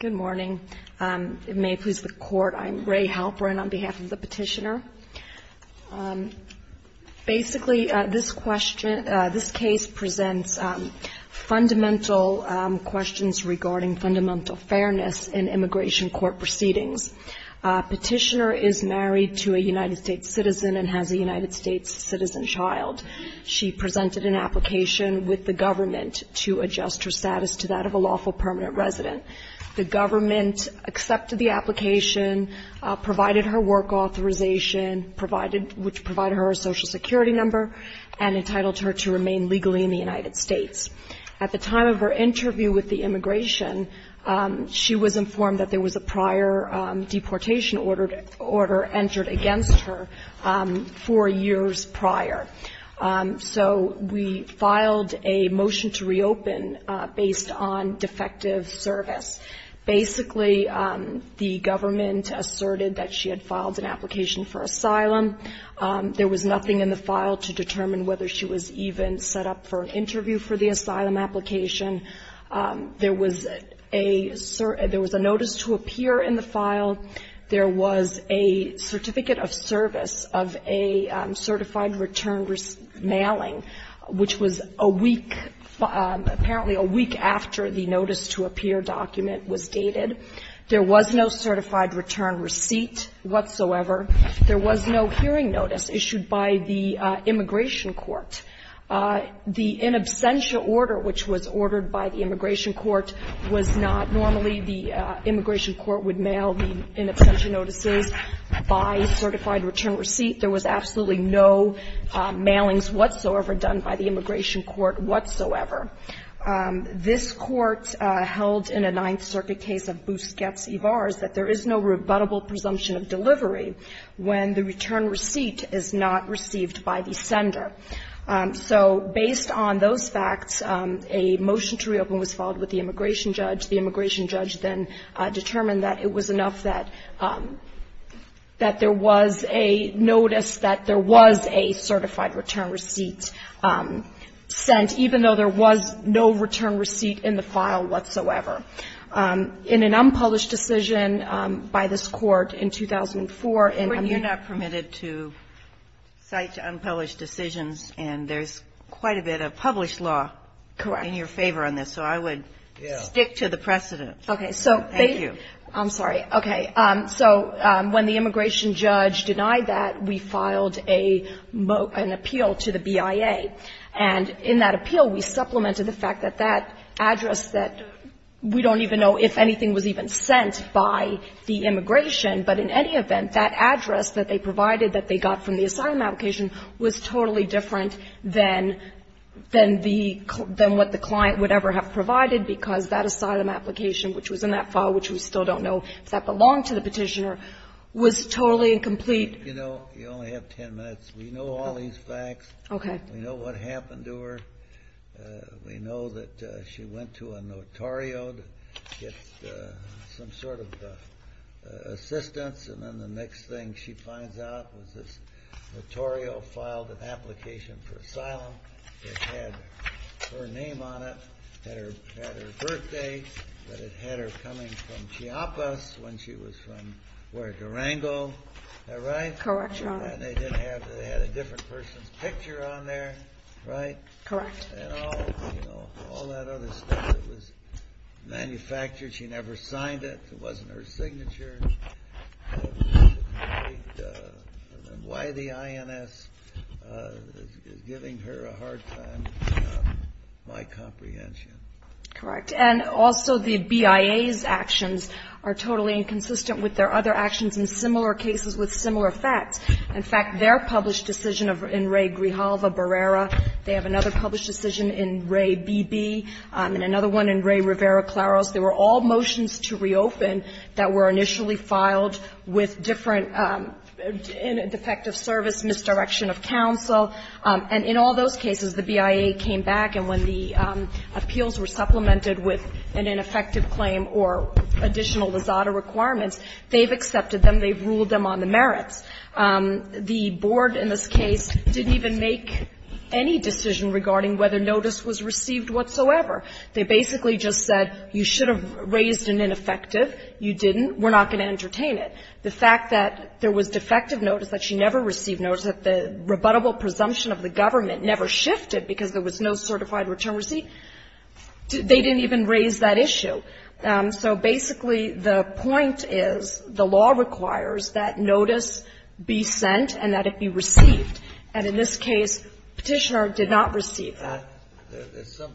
Good morning. May it please the Court, I'm Ray Halperin on behalf of the Petitioner. Basically this case presents fundamental questions regarding fundamental fairness in immigration court proceedings. Petitioner is married to a United States citizen and has a United States citizen child. She presented an application with the government to adjust her status to that of a lawful permanent resident. The government accepted the application, provided her work authorization, which provided her a social security number, and entitled her to remain legally in the United States. At the time of her interview with the immigration, she was informed that there was a prior deportation order entered against her four years prior. So we filed a motion to reopen based on defective service. Basically, the government asserted that she had filed an application for asylum. There was nothing in the file to determine whether she was even set up for an interview for the asylum application. There was a notice to appear in the file. There was a certificate of service of a certified return mailing, which was a week, apparently a week after the notice to appear document was dated. There was no certified return receipt whatsoever. There was no hearing notice issued by the immigration court. The in absentia order, which was ordered by the immigration court, was not normally the immigration court would mail the in absentia notices by certified return receipt. There was absolutely no mailings whatsoever done by the immigration court whatsoever. This Court held in a Ninth Circuit case of Busquets v. Vars that there is no rebuttable presumption of delivery when the return to reopen was filed with the immigration judge. The immigration judge then determined that it was enough that there was a notice that there was a certified return receipt sent, even though there was no return receipt in the file whatsoever. In an unpublished decision by this Court in 2004, and I'm going to go back to that. Kagan, you're not permitted to cite unpublished decisions, and there's quite a bit of published law. Correct. I'm in your favor on this, so I would stick to the precedent. Okay. Thank you. I'm sorry. Okay. So when the immigration judge denied that, we filed a motion appeal to the BIA. And in that appeal, we supplemented the fact that that address that we don't even know if anything was even sent by the immigration. But in any event, that address that they provided, that they got from the asylum application, was totally different than the what the client would ever have provided, because that asylum application, which was in that file, which we still don't know if that belonged to the petitioner, was totally incomplete. You know, you only have ten minutes. We know all these facts. Okay. We know what happened to her. We know that she went to a notario to get some sort of assistance, and then the next thing she finds out was this notario filed an application for asylum. It had her name on it. It had her birthday, but it had her coming from Chiapas when she was from Huerta Rango. Is that right? Correct, Your Honor. And they had a different person's picture on there, right? Correct. And all, you know, all that other stuff that was manufactured. She never signed it. It wasn't her signature. Why the INS is giving her a hard time, my comprehension. Correct. And also the BIA's actions are totally inconsistent with their other actions in similar cases with similar facts. In fact, their published decision in Ray Grijalva Barrera, they have another published decision in Ray B.B., and another one in Ray Rivera-Claros, they were all motions to reopen that were initially filed with different defective service, misdirection of counsel. And in all those cases, the BIA came back, and when the appeals were supplemented with an ineffective claim or additional Lizada requirements, they've accepted them, they've ruled them on the merits. The board in this case didn't even make any decision regarding whether notice was received whatsoever. They basically just said you should have raised an ineffective, you didn't, we're not going to entertain it. The fact that there was defective notice, that she never received notice, that the rebuttable presumption of the government never shifted because there was no certified return receipt, they didn't even raise that issue. So basically, the point is the law requires that notice be sent and that it be received. And in this case, Petitioner did not receive that. There's some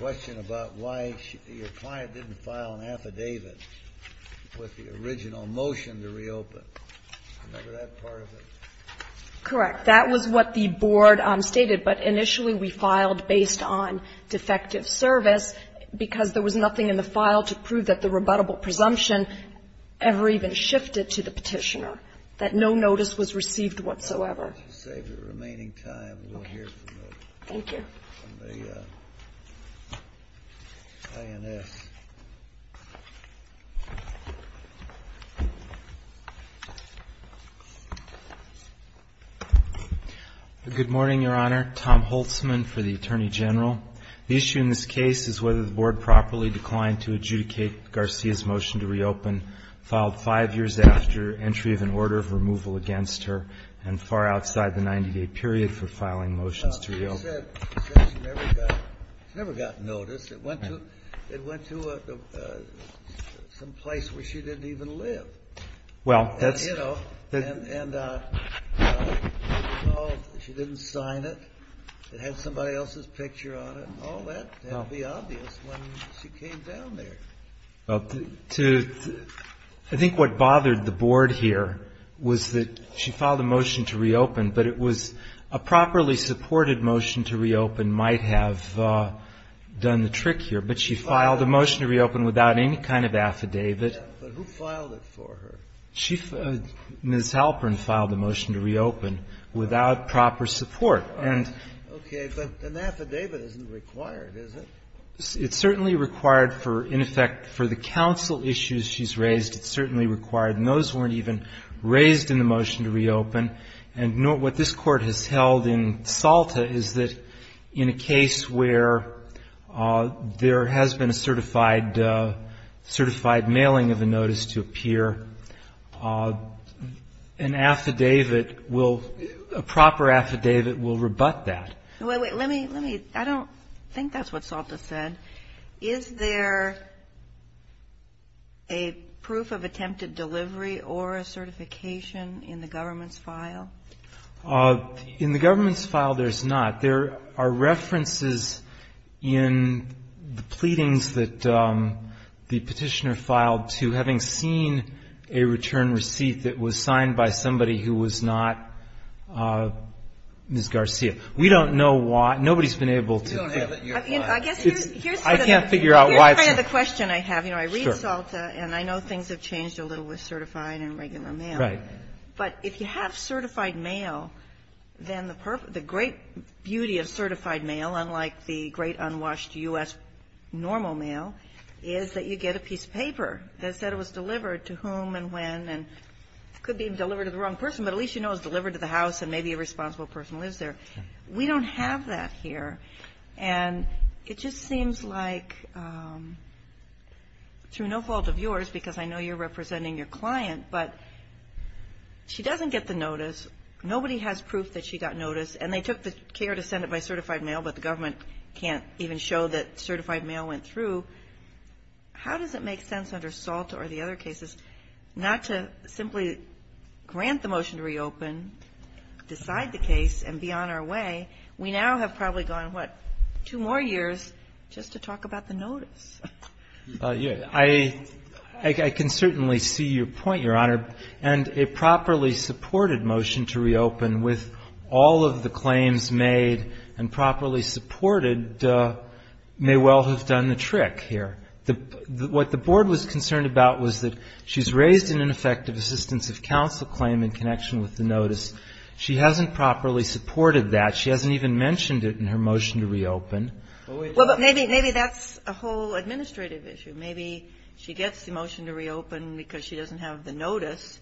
question about why your client didn't file an affidavit with the original motion to reopen. Remember that part of it? Correct. That was what the board stated. But initially we filed based on defective service because there was nothing in the file to prove that the rebuttable presumption ever even shifted to the Petitioner, that no notice was received whatsoever. To save your remaining time, we'll hear from the INS. Good morning, Your Honor. Tom Holtzman for the Attorney General. The issue in this case is whether the board properly declined to adjudicate Garcia's motion to reopen filed five years after entry of an order of removal against her and far outside the 90-day period for filing motions to reopen. She said she never got notice. It went to some place where she didn't even live. Well, that's... You know, and she didn't sign it. It had somebody else's picture on it and all that. That would be obvious when she came down there. Well, I think what bothered the board here was that she filed a motion to reopen, but it was a properly supported motion to reopen might have done the trick here. But she filed a motion to reopen without any kind of affidavit. But who filed it for her? Ms. Halpern filed a motion to reopen without proper support. All right. Okay. But an affidavit isn't required, is it? It's certainly required for, in effect, for the counsel issues she's raised, it's What this Court has held in Salta is that in a case where there has been a certified mailing of a notice to appear, an affidavit will, a proper affidavit will rebut that. Wait, wait. Let me, let me. I don't think that's what Salta said. Is there a proof of attempted delivery or a certification in the government's file? In the government's file, there's not. There are references in the pleadings that the Petitioner filed to having seen a return receipt that was signed by somebody who was not Ms. Garcia. We don't know why. Nobody's been able to. I guess here's the thing. I can't figure out why it's not. Here's kind of the question I have. You know, I read Salta, and I know things have changed a little with certified and regular mail. Right. But if you have certified mail, then the great beauty of certified mail, unlike the great unwashed U.S. normal mail, is that you get a piece of paper that said it was delivered to whom and when and could be delivered to the wrong person, but at least you know it was delivered to the house and maybe a responsible person lives there. We don't have that here. And it just seems like through no fault of yours, because I know you're representing your client, but she doesn't get the notice. Nobody has proof that she got notice. And they took the care to send it by certified mail, but the government can't even show that certified mail went through. How does it make sense under Salta or the other cases not to simply grant the We now have probably gone, what, two more years just to talk about the notice. I can certainly see your point, Your Honor. And a properly supported motion to reopen with all of the claims made and properly supported may well have done the trick here. What the Board was concerned about was that she's raised an ineffective assistance of counsel claim in connection with the notice. She hasn't properly supported that. She hasn't even mentioned it in her motion to reopen. Well, but maybe that's a whole administrative issue. Maybe she gets the motion to reopen because she doesn't have the notice,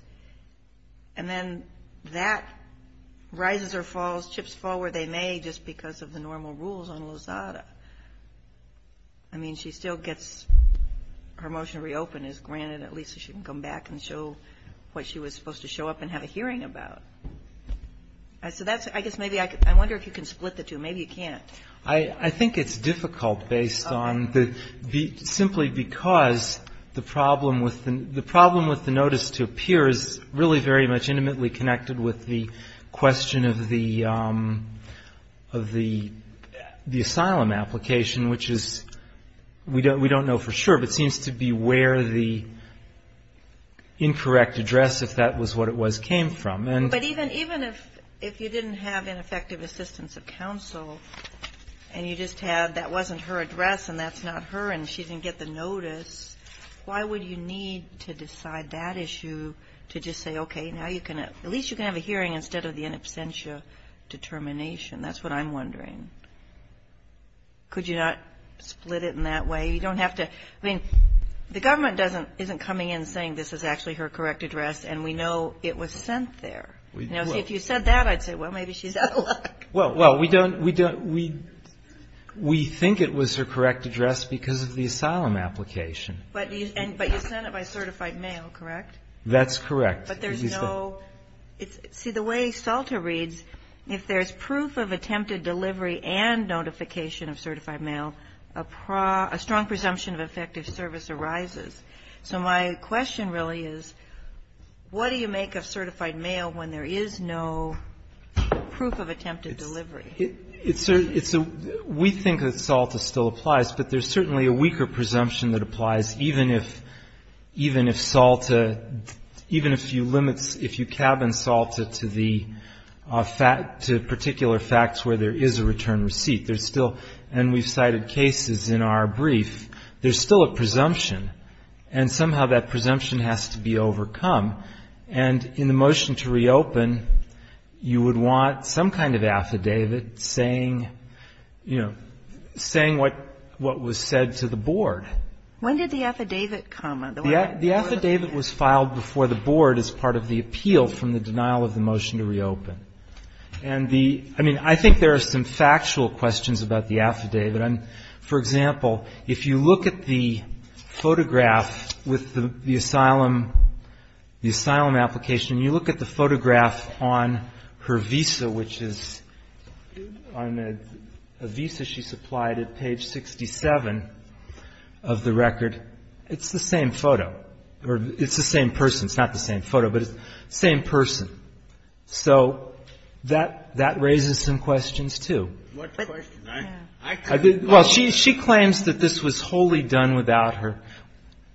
and then that rises or falls, chips fall where they may just because of the normal rules on Lozada. I mean, she still gets her motion to reopen is granted at least so she can come back and show what she was supposed to show up and have a hearing about. So that's, I guess, maybe I wonder if you can split the two. Maybe you can't. I think it's difficult based on simply because the problem with the notice to appear is really very much intimately connected with the question of the asylum application, which is, we don't know for sure, but seems to be where the incorrect address, if that was what it was, came from. But even if you didn't have ineffective assistance of counsel and you just had that wasn't her address and that's not her and she didn't get the notice, why would you need to decide that issue to just say, okay, now you can at least you can have a hearing instead of the in absentia determination. That's what I'm wondering. Could you not split it in that way? You don't have to. I mean, the government isn't coming in saying this is actually her correct address and we know it was sent there. Now, see, if you said that, I'd say, well, maybe she's out of luck. Well, we think it was her correct address because of the asylum application. But you sent it by certified mail, correct? That's correct. But there's no see, the way SALTA reads, if there's proof of attempted delivery and notification of certified mail, a strong presumption of effective service arises. So my question really is, what do you make of certified mail when there is no proof of attempted delivery? We think that SALTA still applies, but there's certainly a weaker presumption that applies even if SALTA, even if you limits, if you cab and SALTA to the fact, to particular facts where there is a return receipt. There's still, and we've cited cases in our brief, there's still a presumption, and somehow that presumption has to be overcome. And in the motion to reopen, you would want some kind of affidavit saying, you know, saying what was said to the board. When did the affidavit come? The affidavit was filed before the board as part of the appeal from the denial of the motion to reopen. And the, I mean, I think there are some factual questions about the affidavit. For example, if you look at the photograph with the asylum, the asylum application, and you look at the photograph on her visa, which is on a visa she supplied at page 67 of the record, it's the same photo, or it's the same person. It's not the same photo, but it's the same person. So that raises some questions, too. Well, she claims that this was wholly done without her,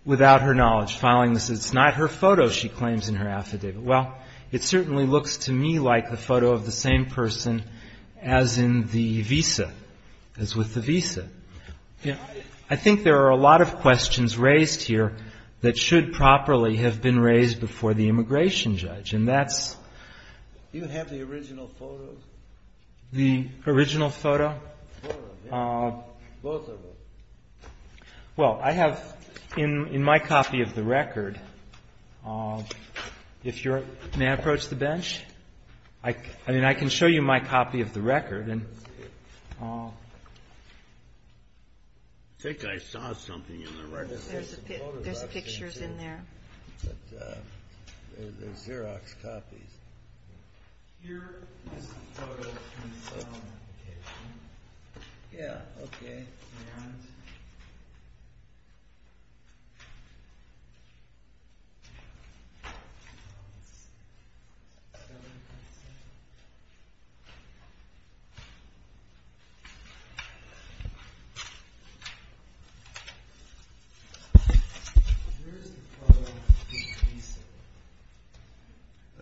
without her knowledge filing this. It's not her photo she claims in her affidavit. Well, it certainly looks to me like the photo of the same person as in the visa, as with the visa. I think there are a lot of questions raised here that should properly have been raised before the immigration judge, and that's the original photo. Well, I have in my copy of the record, if you're, may I approach the bench? I mean, I can show you my copy of the record. I think I saw something in the record. There's pictures in there. There's Xerox copies. Here is the photo from the asylum application. Yeah, okay. And here is the photo of the visa.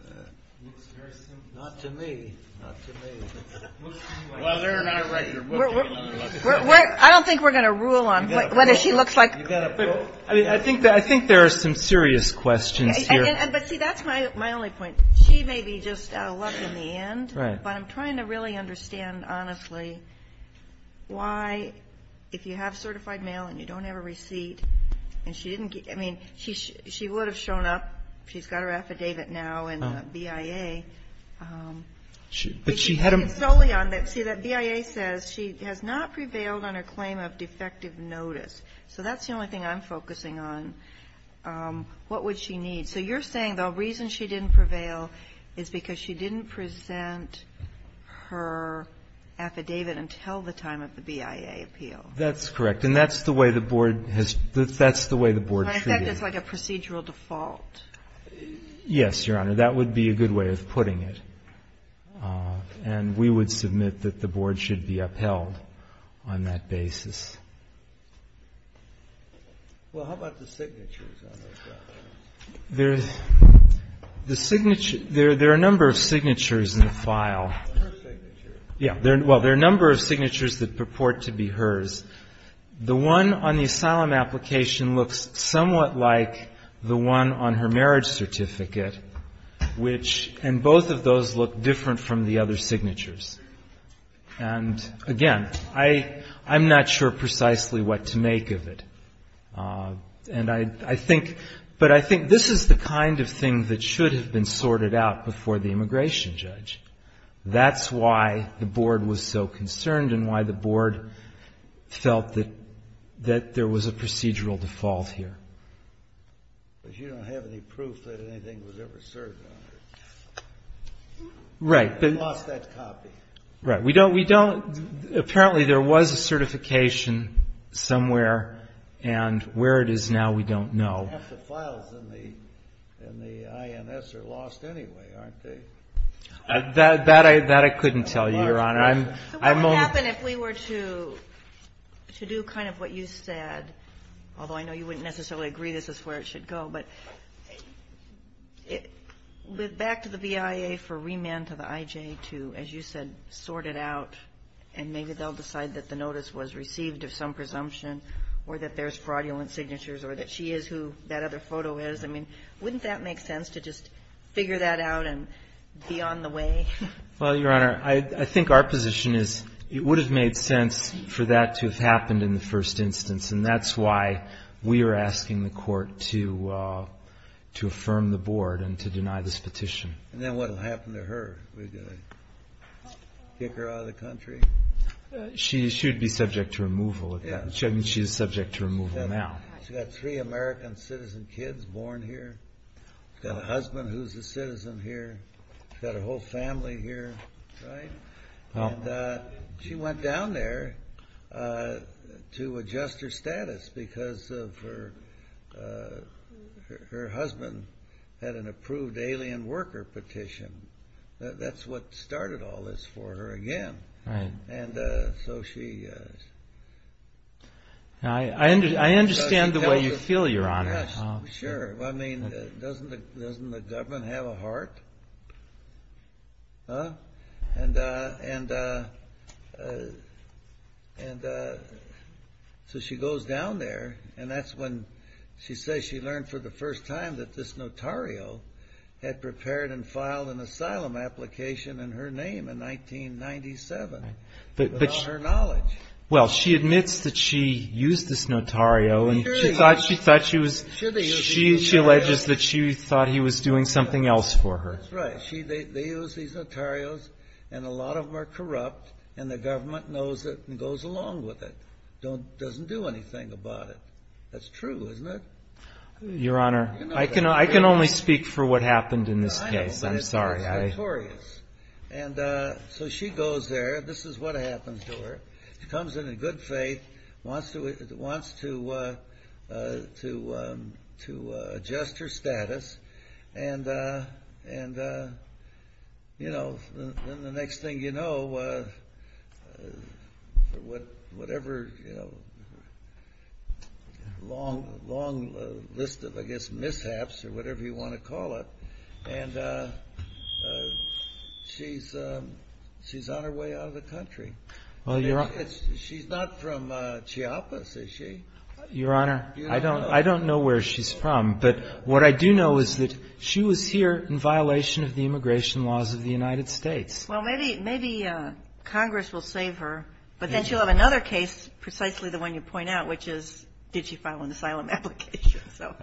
It looks very similar. Not to me, not to me. Well, they're not right. I don't think we're going to rule on whether she looks like. I think there are some serious questions here. But, see, that's my only point. She may be just lucky in the end, but I'm trying to really understand, honestly, why if you have certified mail and you don't have a receipt, and she didn't get, I mean, she would have shown up. She's got her affidavit now in the BIA. But she had them. It's solely on that, see, that BIA says she has not prevailed on her claim of defective notice. So that's the only thing I'm focusing on. What would she need? So you're saying the reason she didn't prevail is because she didn't present her affidavit until the time of the BIA appeal. That's correct. And that's the way the Board has, that's the way the Board treated it. In effect, it's like a procedural default. Yes, Your Honor. That would be a good way of putting it. And we would submit that the Board should be upheld on that basis. Well, how about the signatures on those documents? There are a number of signatures in the file. Her signatures. Yes. Well, there are a number of signatures that purport to be hers. The one on the asylum application looks somewhat like the one on her marriage certificate, which, and both of those look different from the other signatures. And, again, I'm not sure precisely what to make of it. And I think, but I think this is the kind of thing that should have been sorted out before the immigration judge. That's why the Board was so concerned and why the Board felt that there was a procedural default here. But you don't have any proof that anything was ever served on her. Right. You lost that copy. Right. We don't, apparently there was a certification somewhere, and where it is now we don't know. Half the files in the INS are lost anyway, aren't they? That I couldn't tell you, Your Honor. So what would happen if we were to do kind of what you said, although I know you wouldn't necessarily agree this is where it should go, but back to the BIA for remand to the IJ to, as you said, sort it out, and maybe they'll decide that the notice was received of some presumption or that there's fraudulent signatures or that she is who that other photo is. I mean, wouldn't that make sense to just figure that out and be on the way? Well, Your Honor, I think our position is it would have made sense for that to have happened in the first instance. And that's why we are asking the Court to affirm the Board and to deny this petition. And then what will happen to her? Are we going to kick her out of the country? She should be subject to removal. I mean, she is subject to removal now. She's got three American citizen kids born here. She's got a husband who's a citizen here. She's got her whole family here, right? And she went down there to adjust her status because her husband had an approved alien worker petition. That's what started all this for her again. And so she... I understand the way you feel, Your Honor. Sure. I mean, doesn't the government have a heart? And so she goes down there and that's when she says she learned for the first time that this notario had prepared and filed an asylum application in her name in 1997. But she admits that she used this notario. She alleges that she thought he was doing something else for her. That's right. They use these notarios and a lot of them are corrupt and the government knows it and goes along with it. It doesn't do anything about it. That's true, isn't it? Your Honor, I can only speak for what happened in this case. I'm sorry. But it's notorious. And so she goes there. This is what happens to her. She comes in in good faith, wants to adjust her status, and then the next thing you know, whatever long list of mishaps or whatever you want to call it, she's on her way out of the country. She's not from Chiapas, is she? Your Honor, I don't know where she's from. But what I do know is that she was here in violation of the immigration laws of the United States. Well, maybe Congress will save her, but then she'll have another case, precisely the one you point out, which is did she file an asylum application. So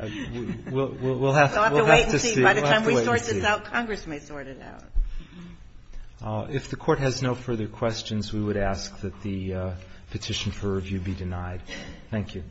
we'll have to wait and see. By the time we sort this out, Congress may sort it out. If the Court has no further questions, we would ask that the petition for review be denied. Thank you.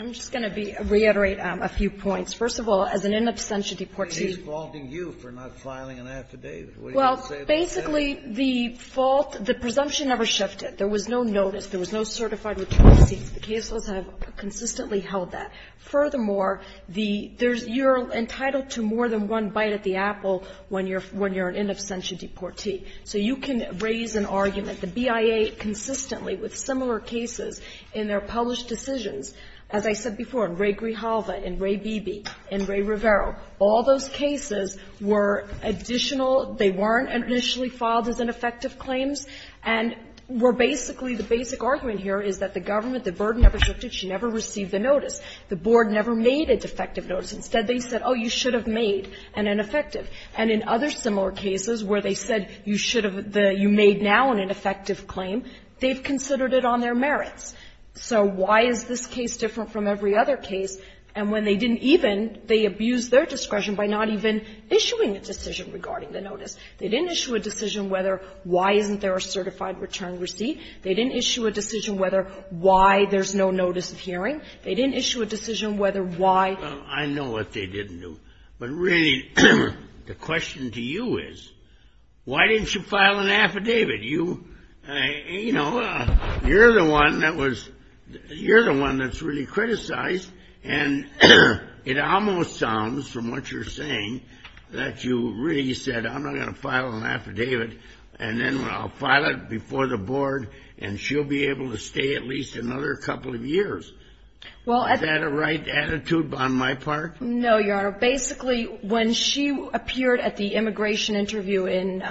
I'm just going to reiterate a few points. First of all, as an in absentia deportee. She's faulting you for not filing an affidavit. What do you have to say about that? Well, basically, the fault, the presumption never shifted. There was no notice. There was no certified return of seats. The caseless have consistently held that. Furthermore, you're entitled to more than one bite at the apple when you're an in absentia deportee. So you can raise an argument. The BIA consistently with similar cases in their published decisions, as I said before, in Ray Grijalva, in Ray Beebe, in Ray Rivero, all those cases were additional. They weren't initially filed as ineffective claims and were basically, the basic argument here is that the government, the burden never shifted. She never received the notice. The board never made a defective notice. Instead, they said, oh, you should have made an ineffective. And in other similar cases where they said you should have the you made now an ineffective claim, they've considered it on their merits. So why is this case different from every other case? And when they didn't even, they abused their discretion by not even issuing a decision regarding the notice. They didn't issue a decision whether why isn't there a certified return receipt. They didn't issue a decision whether why there's no notice of hearing. They didn't issue a decision whether why. I know what they didn't do. But really, the question to you is, why didn't you file an affidavit? You, you know, you're the one that was, you're the one that's really criticized. And it almost sounds, from what you're saying, that you really said I'm not going to file an affidavit and then I'll file it before the board and she'll be able to stay at least another couple of years. Is that a right attitude on my part? No, Your Honor. Basically, when she appeared at the immigration interview in,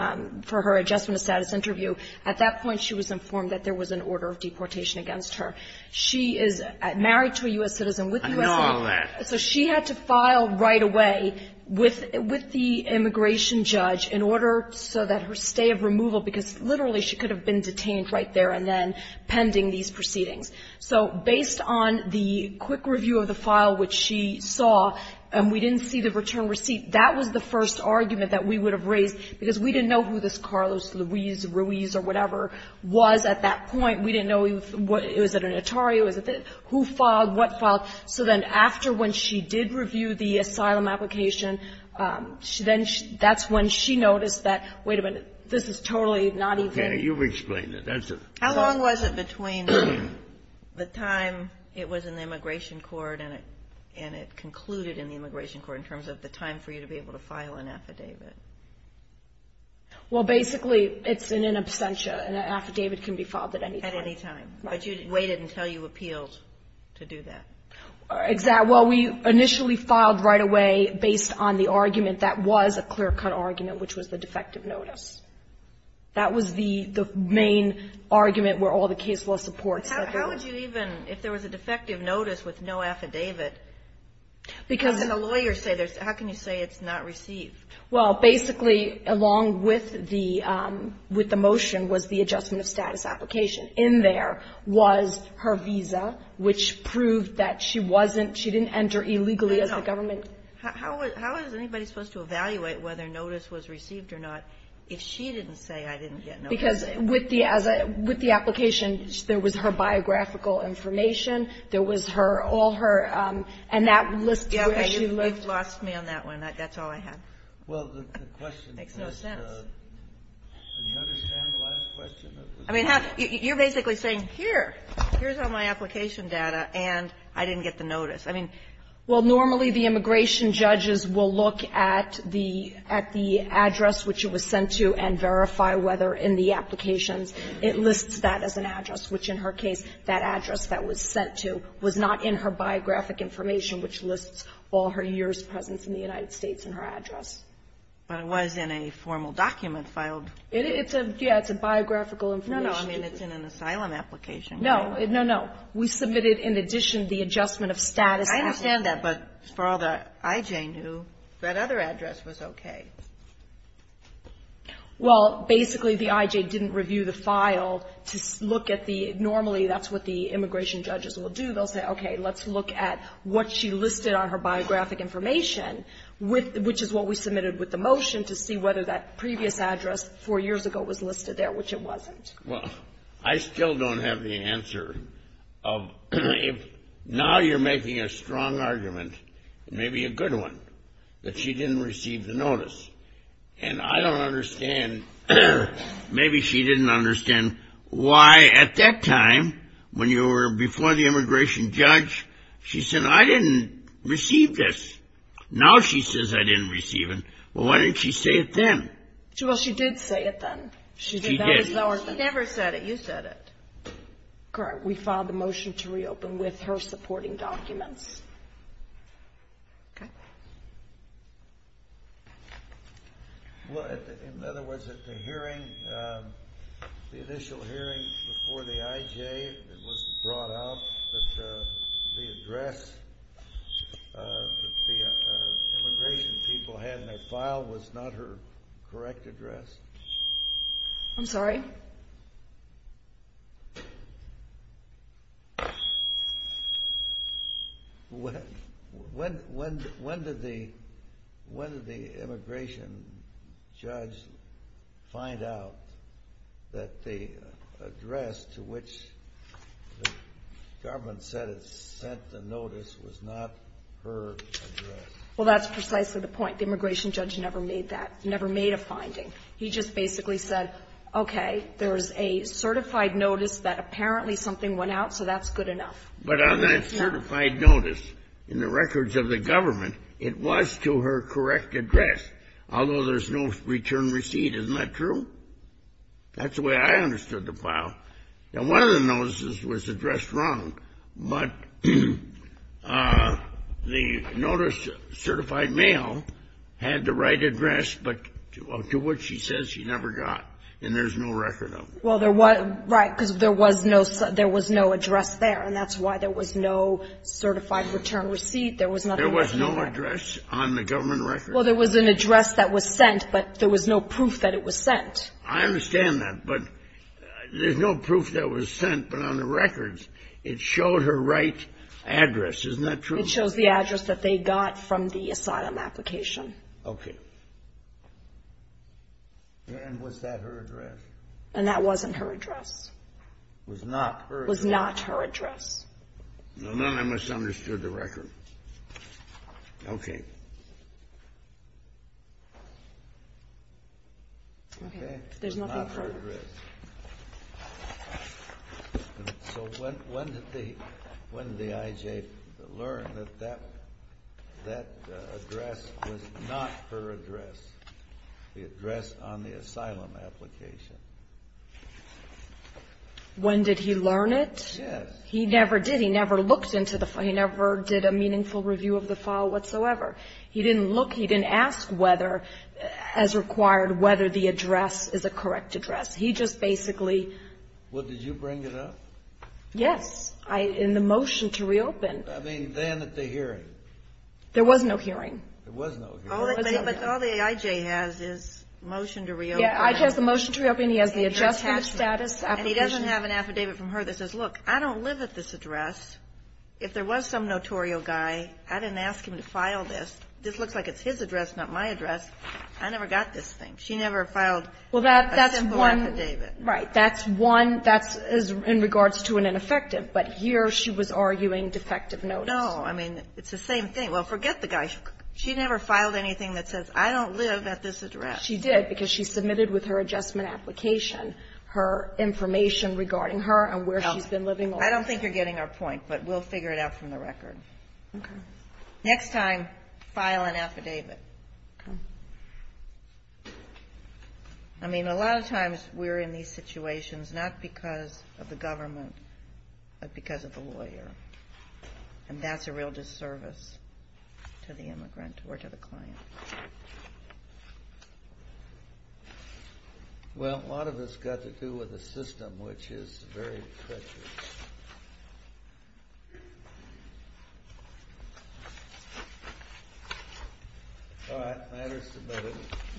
for her adjustment of status interview, at that point she was informed that there was an order of deportation against her. She is married to a U.S. citizen with U.S. I know all that. So she had to file right away with, with the immigration judge in order so that her stay of removal, because literally she could have been detained right there and then pending these proceedings. So based on the quick review of the file, which she saw, and we didn't see the return receipt, that was the first argument that we would have raised, because we didn't know who this Carlos Luis Ruiz or whatever was at that point. We didn't know if it was an attorney, who filed, what filed. So then after when she did review the asylum application, then that's when she noticed that, wait a minute, this is totally not even. Okay, you've explained it. How long was it between the time it was in the immigration court and it, and it concluded in the immigration court in terms of the time for you to be able to file an affidavit? Well, basically it's in an absentia. An affidavit can be filed at any time. At any time. Right. But you waited until you appealed to do that. Exactly. Well, we initially filed right away based on the argument that was a clear-cut argument, which was the defective notice. That was the main argument where all the case law supports that there was. How would you even, if there was a defective notice with no affidavit, how can a lawyer say there's, how can you say it's not received? Well, basically, along with the motion was the adjustment of status application. In there was her visa, which proved that she wasn't, she didn't enter illegally as a government. How is anybody supposed to evaluate whether notice was received or not if she didn't say I didn't get notice? Because with the application, there was her biographical information. There was her, all her, and that lists where she lived. You've lost me on that one. That's all I have. Well, the question was. Makes no sense. Do you understand the last question? I mean, you're basically saying, here, here's all my application data, and I didn't get the notice. I mean. Well, normally the immigration judges will look at the, at the address which it was sent to and verify whether in the applications it lists that as an address, which in her case, that address that was sent to was not in her biographic information which lists all her years' presence in the United States in her address. But it was in a formal document filed. It's a, yeah, it's a biographical information. No, no. I mean, it's in an asylum application. No, no, no. We submitted in addition the adjustment of status. I understand that. But for all the I.J. knew, that other address was okay. Well, basically the I.J. didn't review the file to look at the, normally that's what the immigration judges will do. They'll say, okay, let's look at what she listed on her biographic information, which is what we submitted with the motion, to see whether that previous address four years ago was listed there, which it wasn't. I still don't have the answer of, now you're making a strong argument, maybe a good one, that she didn't receive the notice. And I don't understand, maybe she didn't understand why at that time, when you were before the immigration judge, she said, I didn't receive this. Now she says I didn't receive it. Well, why didn't she say it then? Well, she did say it then. She did. She never said it. You said it. Correct. We filed the motion to reopen with her supporting documents. Okay. Well, in other words, at the hearing, the initial hearing before the I.J. was brought out that the address that the immigration people had in their file was not her correct address? I'm sorry? When did the immigration judge find out that the address to which the government said it sent the notice was not her address? Well, that's precisely the point. The immigration judge never made that, never made a finding. He just basically said, okay, there's a certified notice that apparently something went out, so that's good enough. But on that certified notice in the records of the government, it was to her correct address, although there's no return receipt. Isn't that true? That's the way I understood the file. Now, one of the notices was addressed wrong, but the notice, certified mail, had the right address, but to which she says she never got, and there's no record of it. Well, there was no address there, and that's why there was no certified return receipt. There was no address on the government record? Well, there was an address that was sent, but there was no proof that it was sent. I understand that, but there's no proof that it was sent, but on the records, it showed her right address. Isn't that true? It shows the address that they got from the asylum application. Okay. And was that her address? And that wasn't her address. Was not her address. Was not her address. Well, then I misunderstood the record. Okay. Okay. There's nothing further. Not her address. So when did the IJ learn that that address was not her address, the address on the asylum application? When did he learn it? Yes. He never did. He never looked into the file. He didn't look, he didn't ask whether, as required, whether the address is a correct address. He just basically. Well, did you bring it up? Yes. In the motion to reopen. I mean, then at the hearing. There was no hearing. There was no hearing. But all the IJ has is motion to reopen. Yeah. IJ has the motion to reopen. He has the adjustment status. And he doesn't have an affidavit from her that says, look, I don't live at this address. If there was some notorial guy, I didn't ask him to file this. This looks like it's his address, not my address. I never got this thing. She never filed a simple affidavit. Well, that's one. Right. That's one. That's in regards to an ineffective. But here she was arguing defective notice. No. I mean, it's the same thing. Well, forget the guy. She never filed anything that says, I don't live at this address. She did, because she submitted with her adjustment application her information regarding her and where she's been living. I don't think you're getting our point. But we'll figure it out from the record. OK. Next time, file an affidavit. OK. I mean, a lot of times we're in these situations not because of the government, but because of the lawyer. And that's a real disservice to the immigrant or to the client. Well, a lot of it's got to do with the system, which is very precious. All right. Matters to both of you.